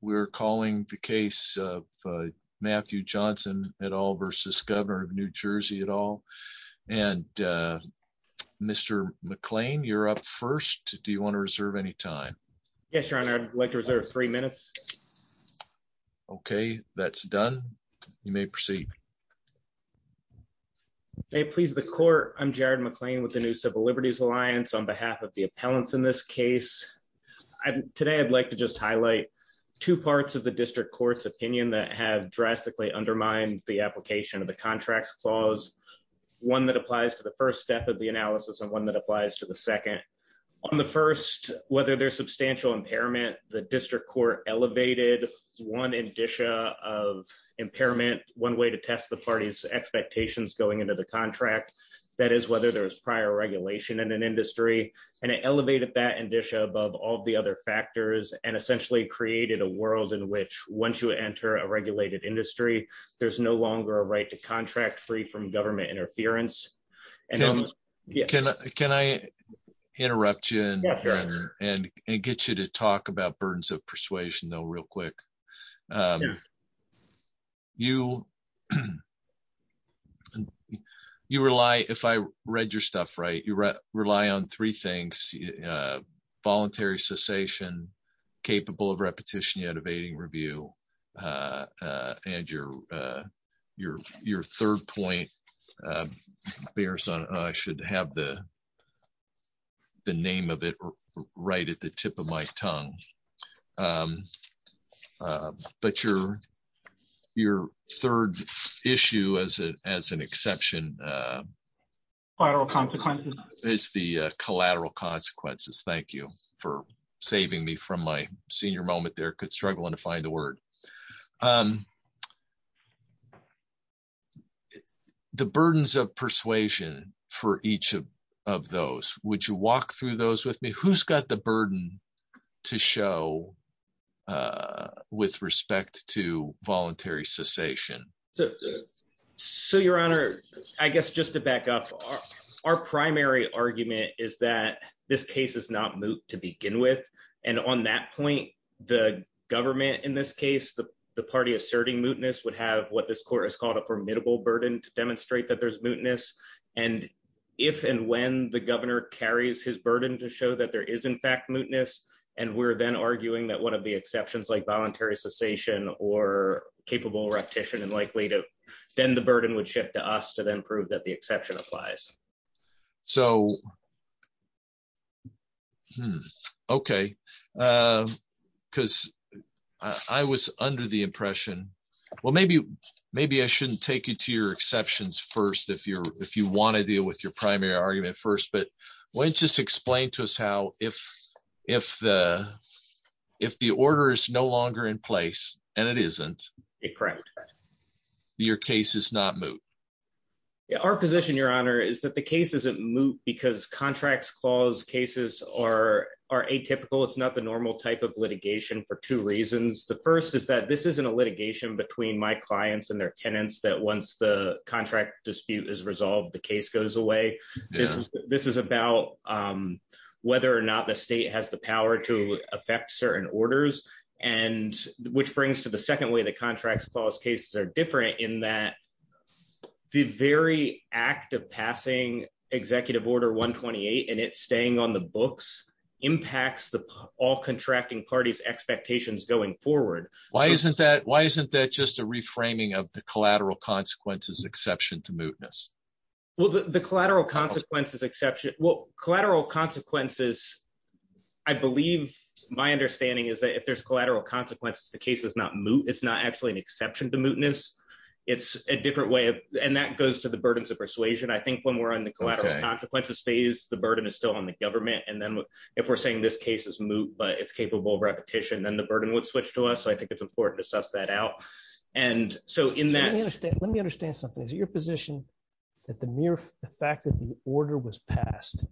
We're calling the case of Matthew Johnson at all versus Governor of New Jersey at all. And, uh, Mr McLean, you're up first. Do you want to reserve any time? Yes, Your Honor. I'd like to reserve three minutes. Okay, that's done. You may proceed. May it please the court. I'm Jared McLean with the new Civil Liberties Alliance. On behalf of the appellants in this case today, I'd like to just highlight two parts of the district court's opinion that have drastically undermined the application of the contracts clause, one that applies to the first step of the analysis and one that applies to the second on the first, whether there's substantial impairment, the district court elevated one indicia of impairment. One way to test the party's expectations going into the contract. That is, whether there was prior regulation in an industry, and it created a world in which once you enter a regulated industry, there's no longer a right to contract free from government interference. Can I interrupt you and get you to talk about burdens of persuasion, though? Real quick. You you rely. If I read your stuff right, you rely on three things. Voluntary cessation, capable of repetition, yet evading review. Uh, and your your your third point, uh, bears on. I should have the the name of it right at the tip of my tongue. Um, but you're your third issue as a as an exception, uh, viral consequences is the collateral consequences. Thank you for saving me from my senior moment. There could struggle to find the word. Um, the burdens of persuasion for each of of those. Would you walk through those with me? Who's got the burden to show, uh, with respect to voluntary cessation? So so, Your Honor, I guess just to back up our primary argument is that this case is not moot to begin with. And on that point, the government in this case, the party asserting mootness would have what this court has called a formidable burden to demonstrate that there's mootness. And if and when the governor carries his burden to show that there is, in fact, mootness, and we're then arguing that one of the exceptions, like voluntary cessation or capable repetition and likely to then the burden would shift to us to then prove that the exception applies. So hmm. Okay. Uh, because I was under the impression. Well, maybe maybe I shouldn't take you to your exceptions first. If you're if you want to deal with your primary argument first, but when just explain to us how if if if the order is no longer in place and it isn't correct, your case is not moot. Our position, Your Honor, is that the case isn't moot because contracts clause cases are are atypical. It's not the normal type of litigation for two reasons. The first is that this isn't a litigation between my clients and their tenants that once the contract dispute is resolved, the case goes away. This this is about, um, whether or not the state has the power to affect certain orders and which brings to the second way the contracts clause cases are different in that the very act of passing executive order 1 28 and it's staying on the books impacts the all contracting parties expectations going forward. Why isn't that? Why isn't that just a reframing of the collateral consequences exception to mootness? Well, the collateral consequences exception collateral consequences. I believe my understanding is that if there's collateral consequences, the case is not moot. It's not actually an exception to mootness. It's a different way. And that goes to the burdens of persuasion. I think when we're in the collateral consequences phase, the burden is still on the government. And then if we're saying this case is moot, but it's capable repetition, then the burden would switch to us. So I think it's important to suss that out. And so in that, let me understand something is your position that the mere fact that the order was passed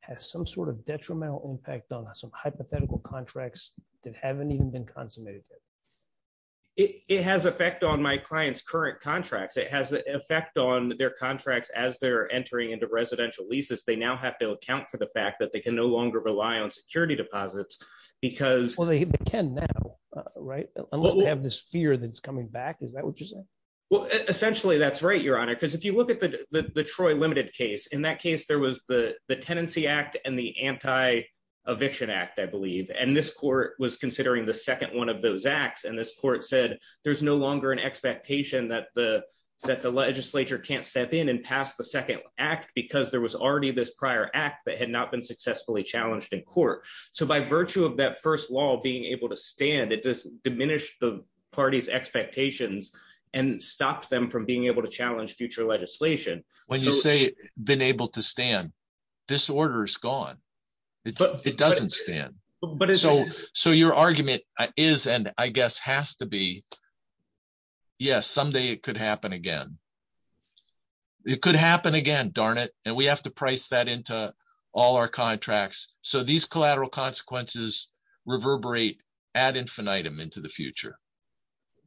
has some sort of detrimental impact on some hypothetical contracts that haven't even been consummated. It has effect on my client's current contracts. It has an effect on their contracts as they're entering into residential leases. They now have to account for the fact that they can no longer rely on security deposits because well, they can now, right? Unless they have this fear that's coming back. Is that what you're saying? Well, essentially, that's right, your honor. Because if you look at the Troy limited case, in that case, there was the Tenancy Act and the Anti Eviction Act, I believe. And this court was considering the second one of those acts. And this court said there's no longer an expectation that the that the legislature can't step in and pass the second act because there was already this prior act that had not been successfully challenged in court. So by virtue of that first law being able to stand, it just diminished the party's expectations and stopped them from being able to challenge future legislation. When you say been able to stand, this order is gone. It doesn't stand. So your argument is, and I guess has to be, yes, someday it could happen again. It could happen again. Darn it. And we have to price that into all our contracts. So these collateral consequences reverberate ad infinitum into the future.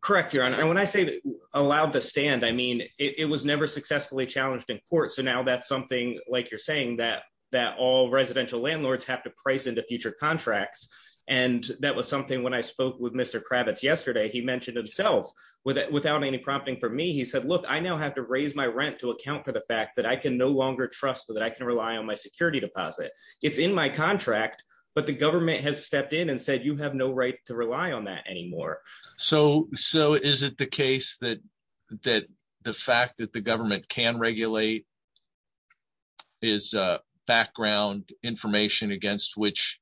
Correct, your honor. And when I say allowed to stand, I mean, it was never successfully challenged in court. So now that's something like you're saying that that all residential landlords have to price into future contracts. And that was something when I spoke with Mr Kravitz yesterday, he now have to raise my rent to account for the fact that I can no longer trust that I can rely on my security deposit. It's in my contract, but the government has stepped in and said, You have no right to rely on that anymore. So So is it the case that that the fact that the government can regulate is background information against which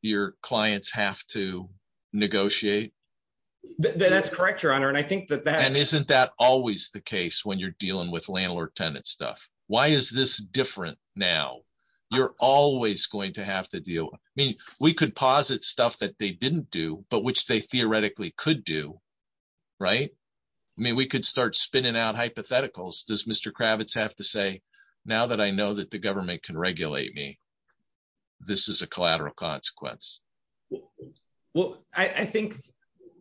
your clients have to negotiate? That's correct, your honor. And I think that that isn't that always the case when you're dealing with landlord tenant stuff. Why is this different now? You're always going to have to deal. I mean, we could posit stuff that they didn't do, but which they theoretically could do. Right. I mean, we could start spinning out hypotheticals. Does Mr Kravitz have to say now that I know that the government can regulate me, this is a collateral consequence. Well, I think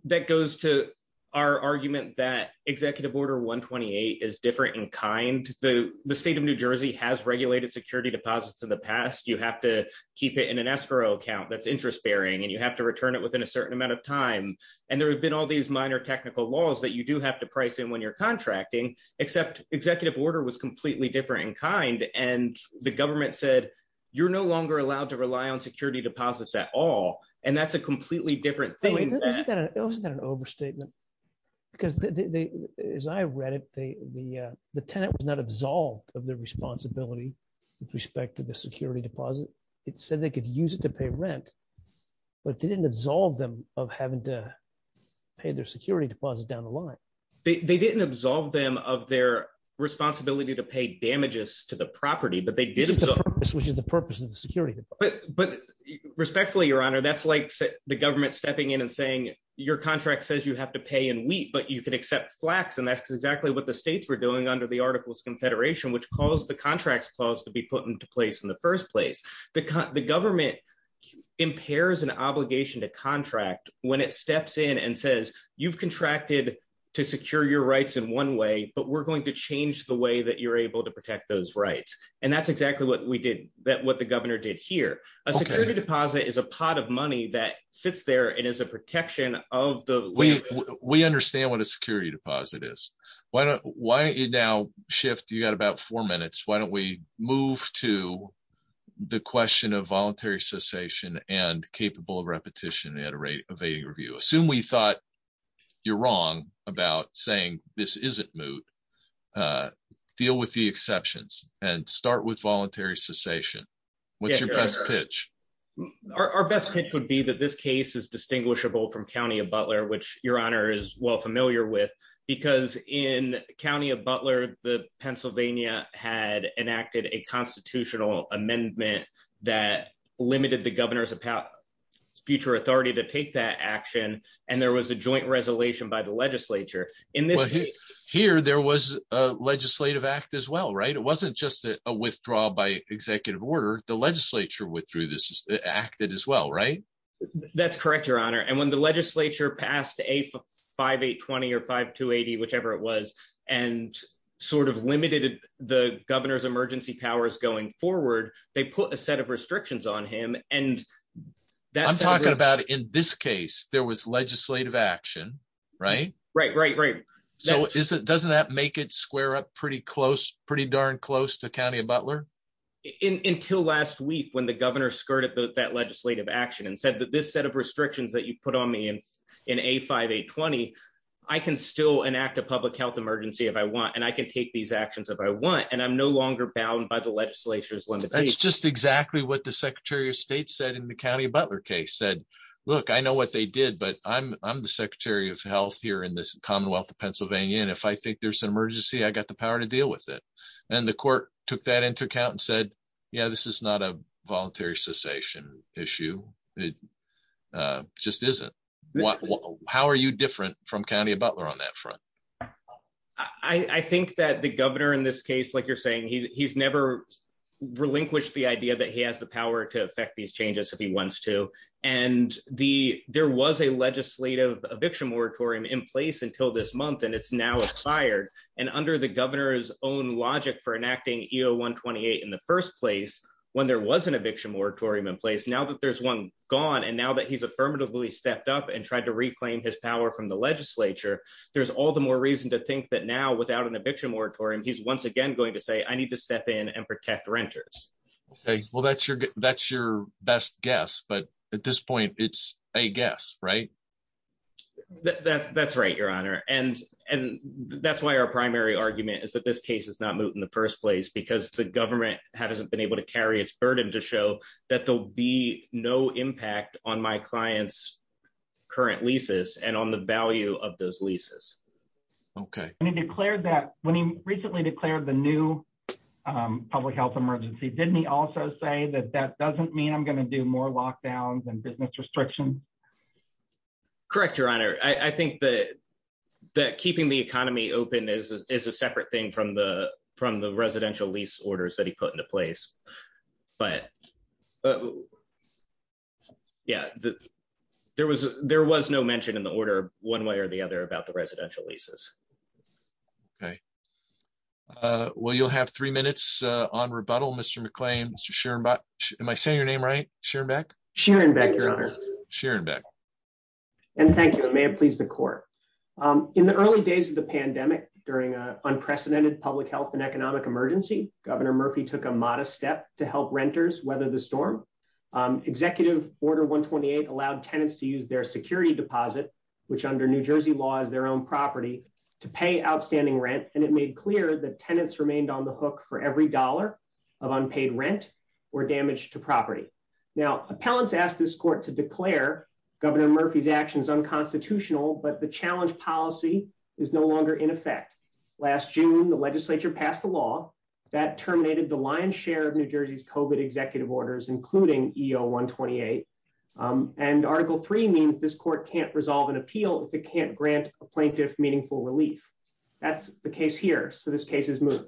that goes to our argument that executive order 1 28 is different in kind. The state of New Jersey has regulated security deposits in the past. You have to keep it in an escrow account that's interest bearing, and you have to return it within a certain amount of time. And there have been all these minor technical laws that you do have to price in when you're contracting, except executive order was completely different in kind. And the government said, You're no longer allowed to rely on security deposits at all. And that's a completely different thing. Isn't that an overstatement? Because as I read it, the tenant was not absolved of their responsibility with respect to the security deposit. It said they could use it to pay rent, but they didn't absolve them of having to pay their security deposit down the line. They didn't absolve them of their responsibility to pay damages to the property, but they did, which is the purpose of the security. But respectfully, Your Honor, that's like the government stepping in and saying your contract says you have to pay in wheat, but you can accept flax. And that's exactly what the states were doing under the Articles Confederation, which calls the contracts clause to be put into place in the first place. The government impairs an obligation to contract when it steps in and says you've contracted to secure your rights in one way, but we're going to change the way that you're able to protect those rights. And that's exactly what we did, what the governor did here. A security deposit is a pot of money that sits there and is a protection of the- We understand what a security deposit is. Why don't you now shift, you got about four minutes, why don't we move to the question of voluntary cessation and capable of repetition at a rate of 80 review. Assume we thought you're wrong about saying this isn't moot. Uh, deal with the exceptions and start with voluntary cessation. What's your best pitch? Our best pitch would be that this case is distinguishable from County of Butler, which Your Honor is well familiar with because in County of Butler, the Pennsylvania had enacted a constitutional amendment that limited the governor's future authority to take that action. And there was a joint resolution by the legislature in this case. Here there was a legislative act as well, right? It wasn't just a withdrawal by executive order. The legislature withdrew this act as well, right? That's correct, Your Honor. And when the legislature passed a 5820 or 5280, whichever it was, and sort of limited the governor's emergency powers going forward, they put a set of restrictions on him. And that's- I'm talking about in this case, there was legislative action, right? Right, right, right. So doesn't that make it square up pretty close, pretty darn close to County of Butler? Until last week, when the governor skirted that legislative action and said that this set of restrictions that you put on me in A5820, I can still enact a public health emergency if I want, and I can take these actions if I want, and I'm no longer bound by the legislature's limitations. That's just exactly what the Secretary of State said in the County of Butler case, said, look, I know what they did, but I'm the Secretary of Health here in this Commonwealth of Pennsylvania, and if I think there's an emergency, I got the power to deal with it. And the court took that into account and said, yeah, this is not a voluntary cessation issue. It just isn't. How are you different from County of Butler on that front? I think that the governor in this case, like you're saying, he's never relinquished the idea that he has the there was a legislative eviction moratorium in place until this month, and it's now expired. And under the governor's own logic for enacting EO 128 in the first place, when there was an eviction moratorium in place, now that there's one gone and now that he's affirmatively stepped up and tried to reclaim his power from the legislature, there's all the more reason to think that now, without an eviction moratorium, he's once again going to say, I need to step in and protect renters. Okay, well, that's your that's your best guess. But at this point, it's a guess, right? That's that's right, Your Honor. And and that's why our primary argument is that this case is not moved in the first place because the government hasn't been able to carry its burden to show that there'll be no impact on my client's current leases and on the value of those leases. Okay, when he declared that when he recently declared the new public health emergency, didn't he also say that that doesn't mean I'm going to do more lockdowns and business restriction? Correct, Your Honor. I think that that keeping the economy open is a separate thing from the from the residential lease orders that he put into place. But, yeah, there was there was no mention in the order one way or the other about the residential leases. Okay. Uh, well, you'll have three minutes on rebuttal. Mr. McClain. Sure. But am I saying your name? Right? Sure. Back. Sharon. Thank you, Your Honor. Sharon Beck. And thank you. May it please the court. Um, in the early days of the pandemic, during an unprecedented public health and economic emergency, Governor Murphy took a modest step to help renters weather the storm. Um, executive order 1 28 allowed tenants to use their security deposit, which under New Jersey law is their own property to pay outstanding rent. And it made clear that tenants remained on the hook for every dollar of unpaid rent or damage to property. Now, appellants asked this court to declare Governor Murphy's actions unconstitutional. But the challenge policy is no longer in effect. Last June, the Legislature passed a law that terminated the lion share of New Jersey's COVID executive orders, including E O 1 28. Um, and article three means this court can't resolve an appeal if it can't grant a plaintiff meaningful relief. That's the case here. So this case is moving.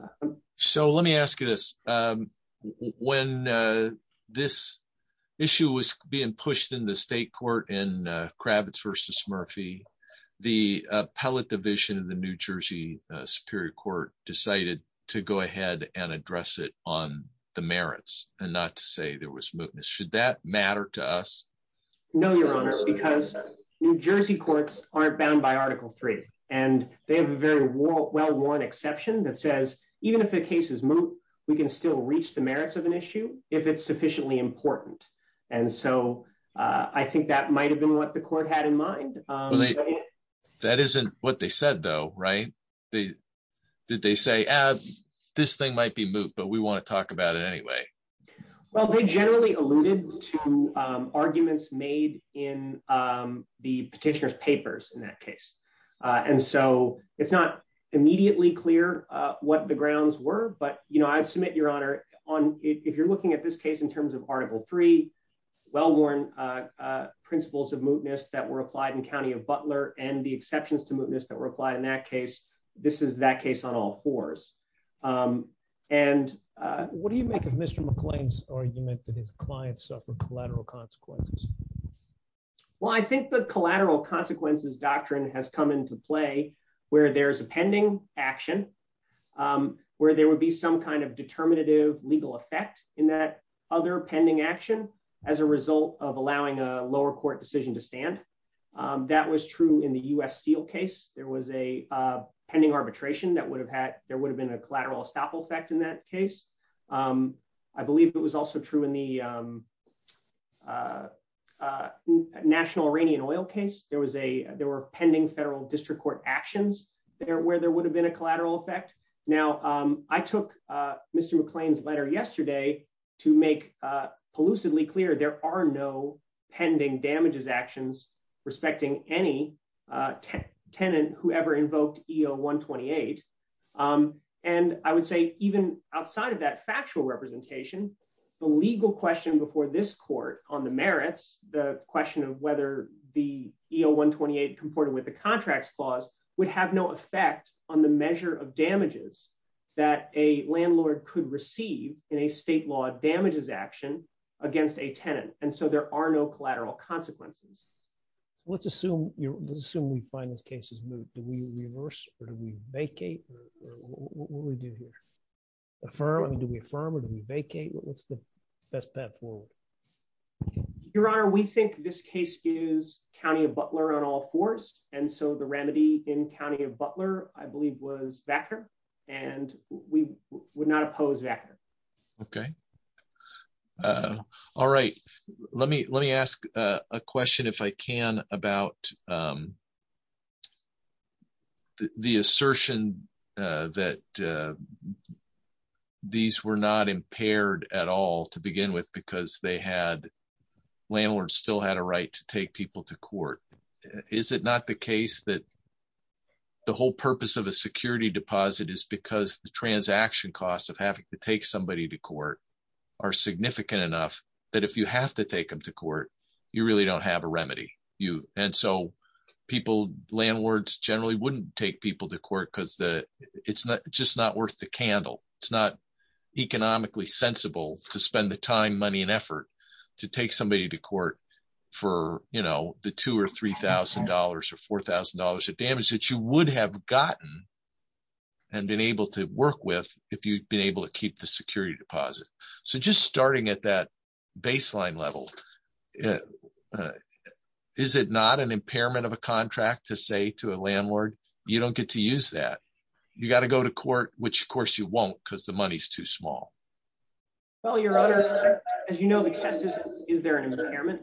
So let me ask you this. Um, when, uh, this issue was being pushed in the state court in Kravitz versus Murphy, the appellate division of the New Jersey Superior Court decided to go ahead and address it on the merits and not to say there was mootness. Should that matter to us? No, Your Honor, because New Jersey courts aren't bound by Article three, and they have a very well one exception that says even if the case is moot, we can still reach the merits of an issue if it's sufficiently important. And so I think that might have been what the court had in mind. That isn't what they said, though, right? They did. They say, Uh, this thing might be moot, but we want to talk about it anyway. Well, they generally alluded to arguments made in, um, the petitioner's papers in that case. And so it's not immediately clear what the grounds were. But, you know, I submit your honor on if you're looking at this case in terms of Article three, well worn, uh, principles of mootness that were applied in County of Butler and the exceptions to mootness that were applied in that case. This is that case on all fours. Um, and what do you make of Mr McClain's argument that his clients suffered collateral consequences? Well, I think the collateral consequences doctrine has come into play where there's a pending action, um, where there would be some kind of determinative legal effect in that other pending action as a result of allowing a lower court decision to stand. Um, that was true in the U. S. Steel case. There was a pending arbitration that would have had. There I believe it was also true in the, um, uh, uh, national Iranian oil case. There was a there were pending federal district court actions there where there would have been a collateral effect. Now, um, I took Mr McClain's letter yesterday to make, uh, lucidly clear. There are no pending damages actions respecting any, uh, tenant who ever invoked E O 1 28. Um, and I of that factual representation, the legal question before this court on the merits the question of whether the E O 1 28 comported with the contracts clause would have no effect on the measure of damages that a landlord could receive in a state law damages action against a tenant. And so there are no collateral consequences. Let's assume you assume we find these cases do we reverse or do we vacate? What do we do here? Affirmative. We affirm it. We vacate. What's the best path forward? Your Honor, we think this case is county of Butler on all forced. And so the remedy in county of Butler, I believe, was backer, and we would not oppose that. Okay. Uh, all right. Let me let me ask a question if I can about, um, the assertion that, uh, these were not impaired at all to begin with, because they had landlords still had a right to take people to court. Is it not the case that the whole purpose of a security deposit is because the transaction costs of having to take somebody to court are significant enough that if you have to take him to court, you really don't have a remedy you. And so people, landlords generally wouldn't take people to court because the it's just not worth the candle. It's not economically sensible to spend the time, money and effort to take somebody to court for, you know, the two or $3,000 or $4,000 of damage that you would have gotten and been able to work with if you've been able to keep the security deposit. So just starting at that baseline level, uh, is it not an impairment of a contract to say to a landlord, you don't get to use that. You got to go to court, which, of course, you won't because the money's too small. Well, your honor, as you know, the test is, is there an impairment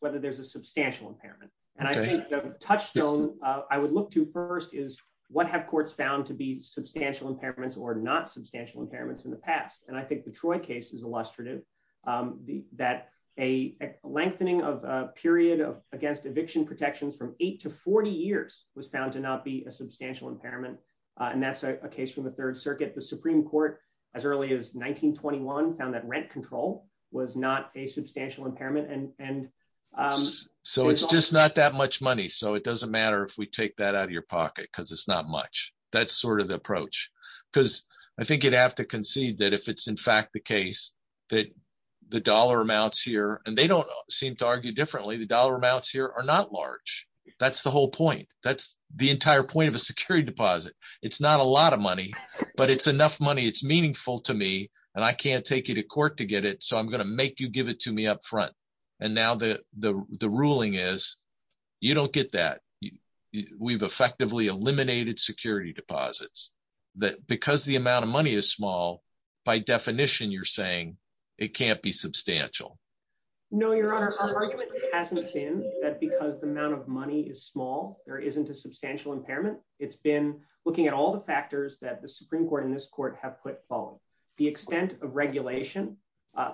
whether there's a substantial impairment? And I think the touchstone I would look to first is what have courts found to be substantial impairments or not substantial impairments in the past. And I think the Troy case is illustrative. Um, that a lengthening of a period of against eviction protections from 8 to 40 years was found to not be a substantial impairment. And that's a case from the Third Circuit. The Supreme Court as early as 1921 found that rent control was not a substantial impairment. And, and, um, so it's just not that much money. So it doesn't matter if we take that out of your pocket because it's not much. That's sort of the approach because I think you'd have to concede that if it's in fact the case that the dollar amounts here and they don't seem to argue differently, the dollar amounts here are not large. That's the whole point. That's the entire point of a security deposit. It's not a lot of money, but it's enough money. It's meaningful to me and I can't take you to court to get it. So I'm gonna make you give it to me up front. And now the ruling is you don't get that. We've the amount of money is small. By definition, you're saying it can't be substantial. No, your Honor, hasn't been that because the amount of money is small, there isn't a substantial impairment. It's been looking at all the factors that the Supreme Court in this court have put following the extent of regulation.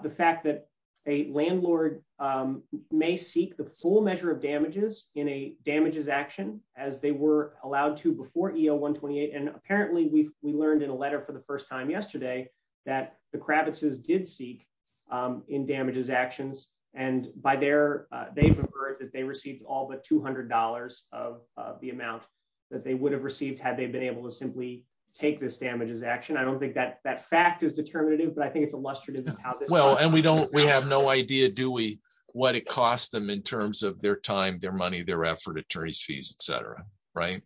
The fact that a landlord, um, may seek the full measure of damages in a damages action as they were allowed to before E. O. 1 28. And for the first time yesterday that the Kravitz is did seek, um, in damages actions. And by there, they've heard that they received all but $200 of the amount that they would have received had they been able to simply take this damages action. I don't think that that fact is determinative, but I think it's illustrative. Well, and we don't we have no idea. Do we what it cost them in terms of their time, their money, their effort, attorney's fees, etcetera. Right?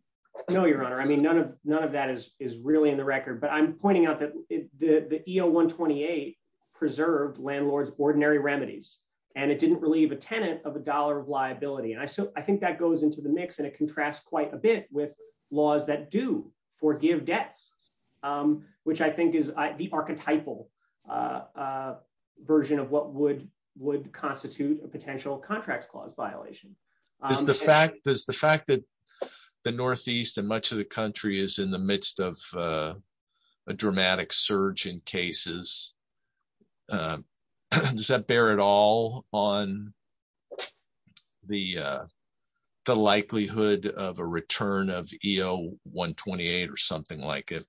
No, your Honor. I mean, none of none of that is really in record, but I'm pointing out that the E. O. 1 28 preserved landlords, ordinary remedies, and it didn't relieve a tenant of $1 of liability. And I think that goes into the mix, and it contrasts quite a bit with laws that do forgive debts, um, which I think is the archetypal, uh, version of what would would constitute a potential contracts clause violation. Is the fact is the fact that the Northeast and much of the country is in the midst of, uh, dramatic surge in cases. Uh, does that bear it all on the, uh, the likelihood of a return of E. O. 1 28 or something like it?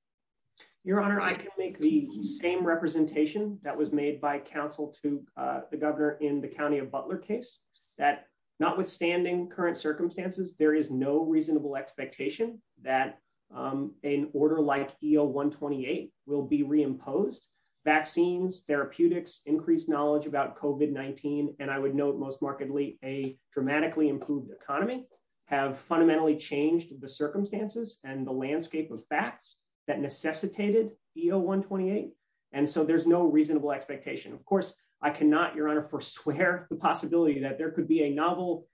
Your Honor, I can make the same representation that was made by counsel to the governor in the county of Butler case that notwithstanding current circumstances, there is no reasonable expectation that, um, an order like E. O. 1 28 will be reimposed. Vaccines, therapeutics, increased knowledge about Cove in 19. And I would note most markedly a dramatically improved economy have fundamentally changed the circumstances and the landscape of facts that necessitated E. O. 1 28. And so there's no reasonable expectation. Of course, I cannot, Your Honor, forswear the possibility that there could be a novel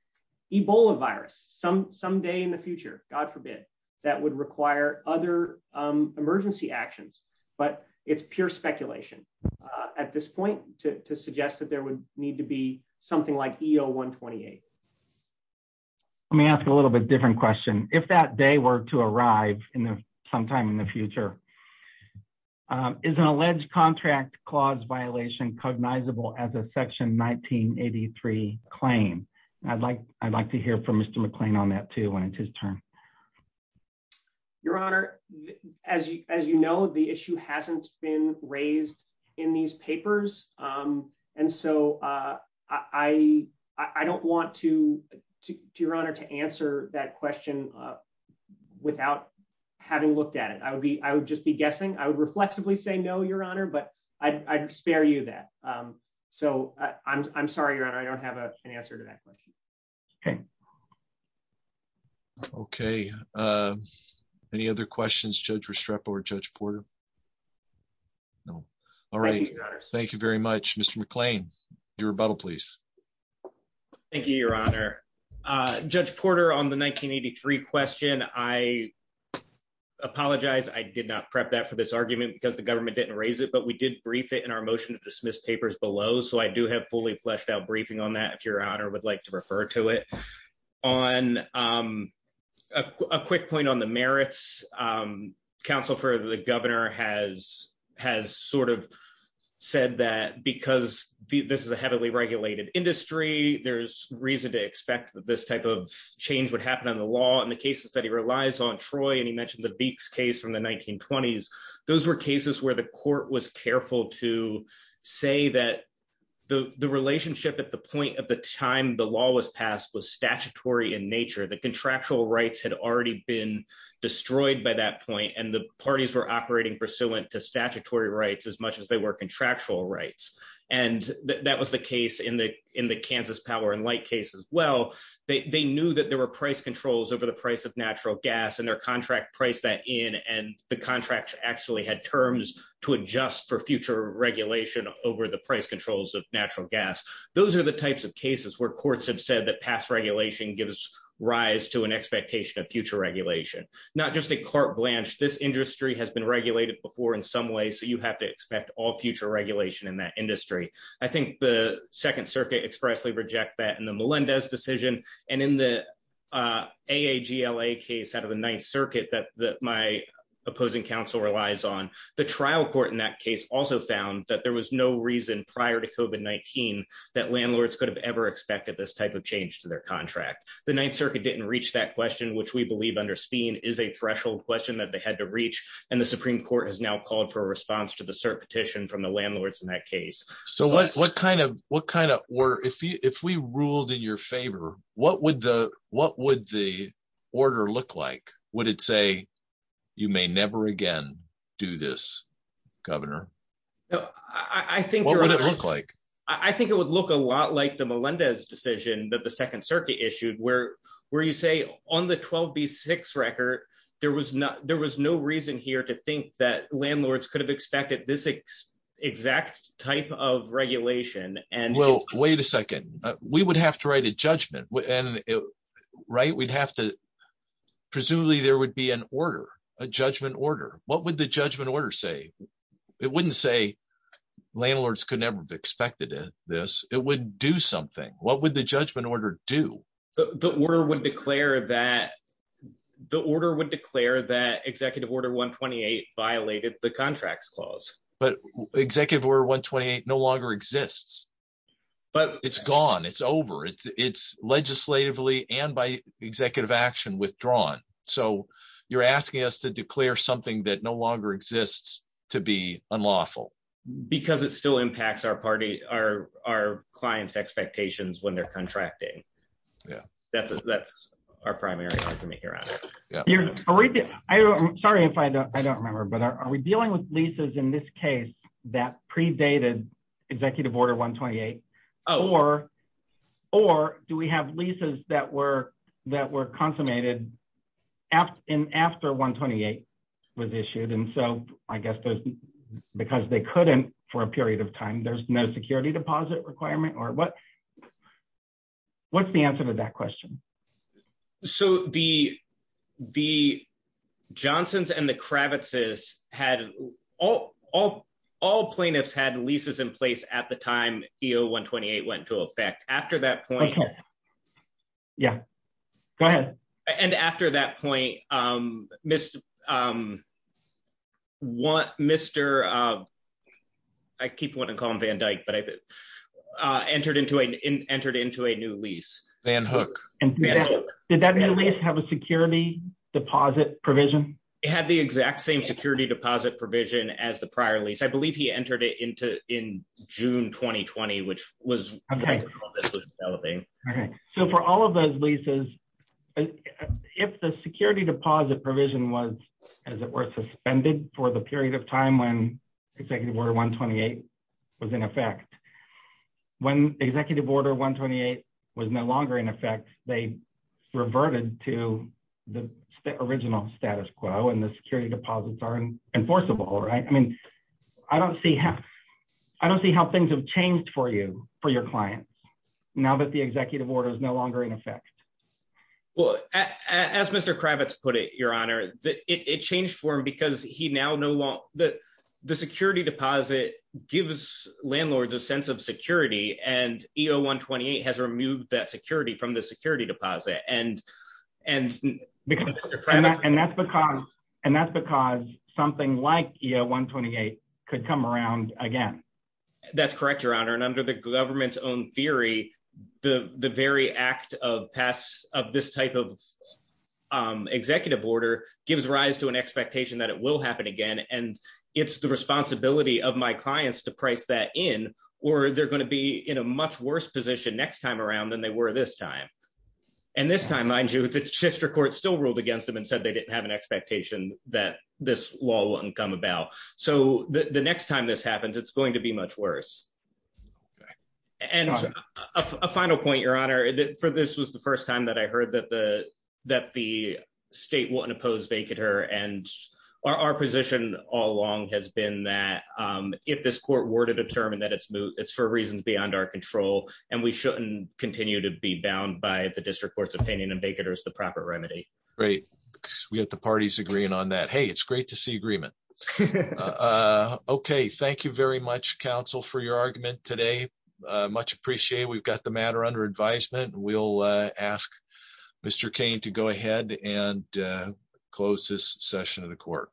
Ebola virus some some day in the future. God forbid that would require other emergency actions. But it's pure speculation at this point to suggest that there would need to be something like E. O. 1 28. Let me ask a little bit different question. If that day were to arrive in the sometime in the future, um, is an alleged contract clause violation cognizable as a section 1983 claim? I'd like I'd like to hear from Mr McClain on that, too, when it's his turn. Your Honor, as you as you know, the issue hasn't been raised in these papers. Um, and so, uh, I I don't want to do your honor to answer that question without having looked at it. I would be. I would just be guessing. I would reflexively say no, Your Honor, but I'd spare you that. Um, so I'm sorry, Your Honor. I don't have an answer to that question. Okay. Okay. Uh, any other questions? Judge Restrepo or Judge Porter? No. All right. Thank you very much, Mr McClain. Your rebuttal, please. Thank you, Your Honor. Uh, Judge Porter on the 1983 question. I apologize. I did not prep that for this argument because the government didn't raise it, but we did brief it in our motion to dismiss papers below. So I do have fully fleshed out briefing on that, if your honor would like to refer to it on, um, a quick point on the merits. Um, counsel for the governor has has said that because this is a heavily regulated industry, there's reason to expect that this type of change would happen on the law and the cases that he relies on Troy and he mentioned the beaks case from the 1920s. Those were cases where the court was careful to say that the relationship at the point of the time the law was passed was statutory in nature. The contractual rights had already been destroyed by that point, and the parties were operating pursuant to statutory rights as much as they were contractual rights. And that was the case in the in the Kansas power and light case as well. They knew that there were price controls over the price of natural gas and their contract price that in and the contract actually had terms to adjust for future regulation over the price controls of natural gas. Those are the types of cases where courts have said that past regulation gives rise to an expectation of future regulation, not just a court blanch. This industry has been regulated before in some way, so you have to expect all future regulation in that industry. I think the Second Circuit expressly reject that in the Melinda's decision and in the A. A. G. L. A. Case out of the Ninth Circuit that my opposing counsel relies on the trial court in that case also found that there was no reason prior to Kobe 19 that landlords could have ever expected this type of change to their contract. The Ninth Circuit didn't reach that question, which we believe under speen is a had to reach, and the Supreme Court has now called for a response to the cert petition from the landlords in that case. So what what kind of what kind of or if we ruled in your favor, what would the what would the order look like? Would it say you may never again do this, Governor? I think what would it look like? I think it would look a lot like the Melinda's decision that the Second Circuit issued where where you say on the 12 B six record there was not there was no reason here to think that landlords could have expected this exact type of regulation. And well, wait a second. We would have to write a judgment. And right, we'd have to. Presumably there would be an order, a judgment order. What would the judgment order say? It wouldn't say landlords could never expected this. It would do something. What would the would declare that Executive Order 1 28 violated the contracts clause. But Executive Order 1 28 no longer exists, but it's gone. It's over. It's legislatively and by executive action withdrawn. So you're asking us to declare something that no longer exists to be unlawful because it still impacts our party are our clients expectations when they're contracting. Yeah, that's that's our primary argument here at it. Sorry if I don't remember. But are we dealing with leases in this case that predated Executive Order 1 28 or or do we have leases that were that were consummated after 1 28 was issued? And so I guess because they couldn't for a period of time, there's no security deposit requirement or what? What's the answer to that question? So the the Johnson's and the Kravitz is had all all all plaintiffs had leases in place at the time. You know, 1 28 went to affect after that point. Yeah, go ahead. And after that point, um, Mr. Um, Mr. Uh, I keep wanting to call him Van Dyke, but I entered into a entered into a new lease and hook. And did that at least have a security deposit provision? Had the exact same security deposit provision as the prior lease. I believe he entered it into in June 2020, which was okay. Okay. So for all of those leases, if the security deposit provision was, as it were suspended for the period of time when Executive Order 1 28 was in effect when Executive Order 1 28 was no longer in effect, they reverted to the original status quo. And the security deposits are enforceable, right? I mean, I don't see half. I don't see how things have changed for you for your clients now that the executive order is no longer in effect. Well, as Mr Kravitz put it, Your Honor, it changed for him because he now know that the security deposit gives landlords a sense of security. And you know, 1 28 has removed that security from the security deposit. And and because and that's because and that's because something like 1 28 could come around again. That's correct, Your Honor. And under the government's own theory, the very act of pass of this type of, um, executive order gives rise to an expectation that it will happen again. And it's the responsibility of my clients to price that in or they're going to be in a much worse position next time around than they were this time. And this time, mind you, it's sister court still ruled against him and said they didn't have an expectation that this law wouldn't come about. So the next time this happens, it's going to be much worse. And a final point, Your Honor, for this was the first time that I heard that the that the state won't oppose vacate her. And our position all along has been that, um, if this court were to determine that it's it's for reasons beyond our control, and we shouldn't continue to be bound by the district court's opinion and vacate is the proper remedy. Great. We have the parties agreeing on that. Hey, it's great to see agreement. Uh, okay. Thank you very much. Counsel for your argument today. Much appreciate. We've got the matter under advisement. We'll ask Mr Cain to go ahead and, uh, close this session of the court.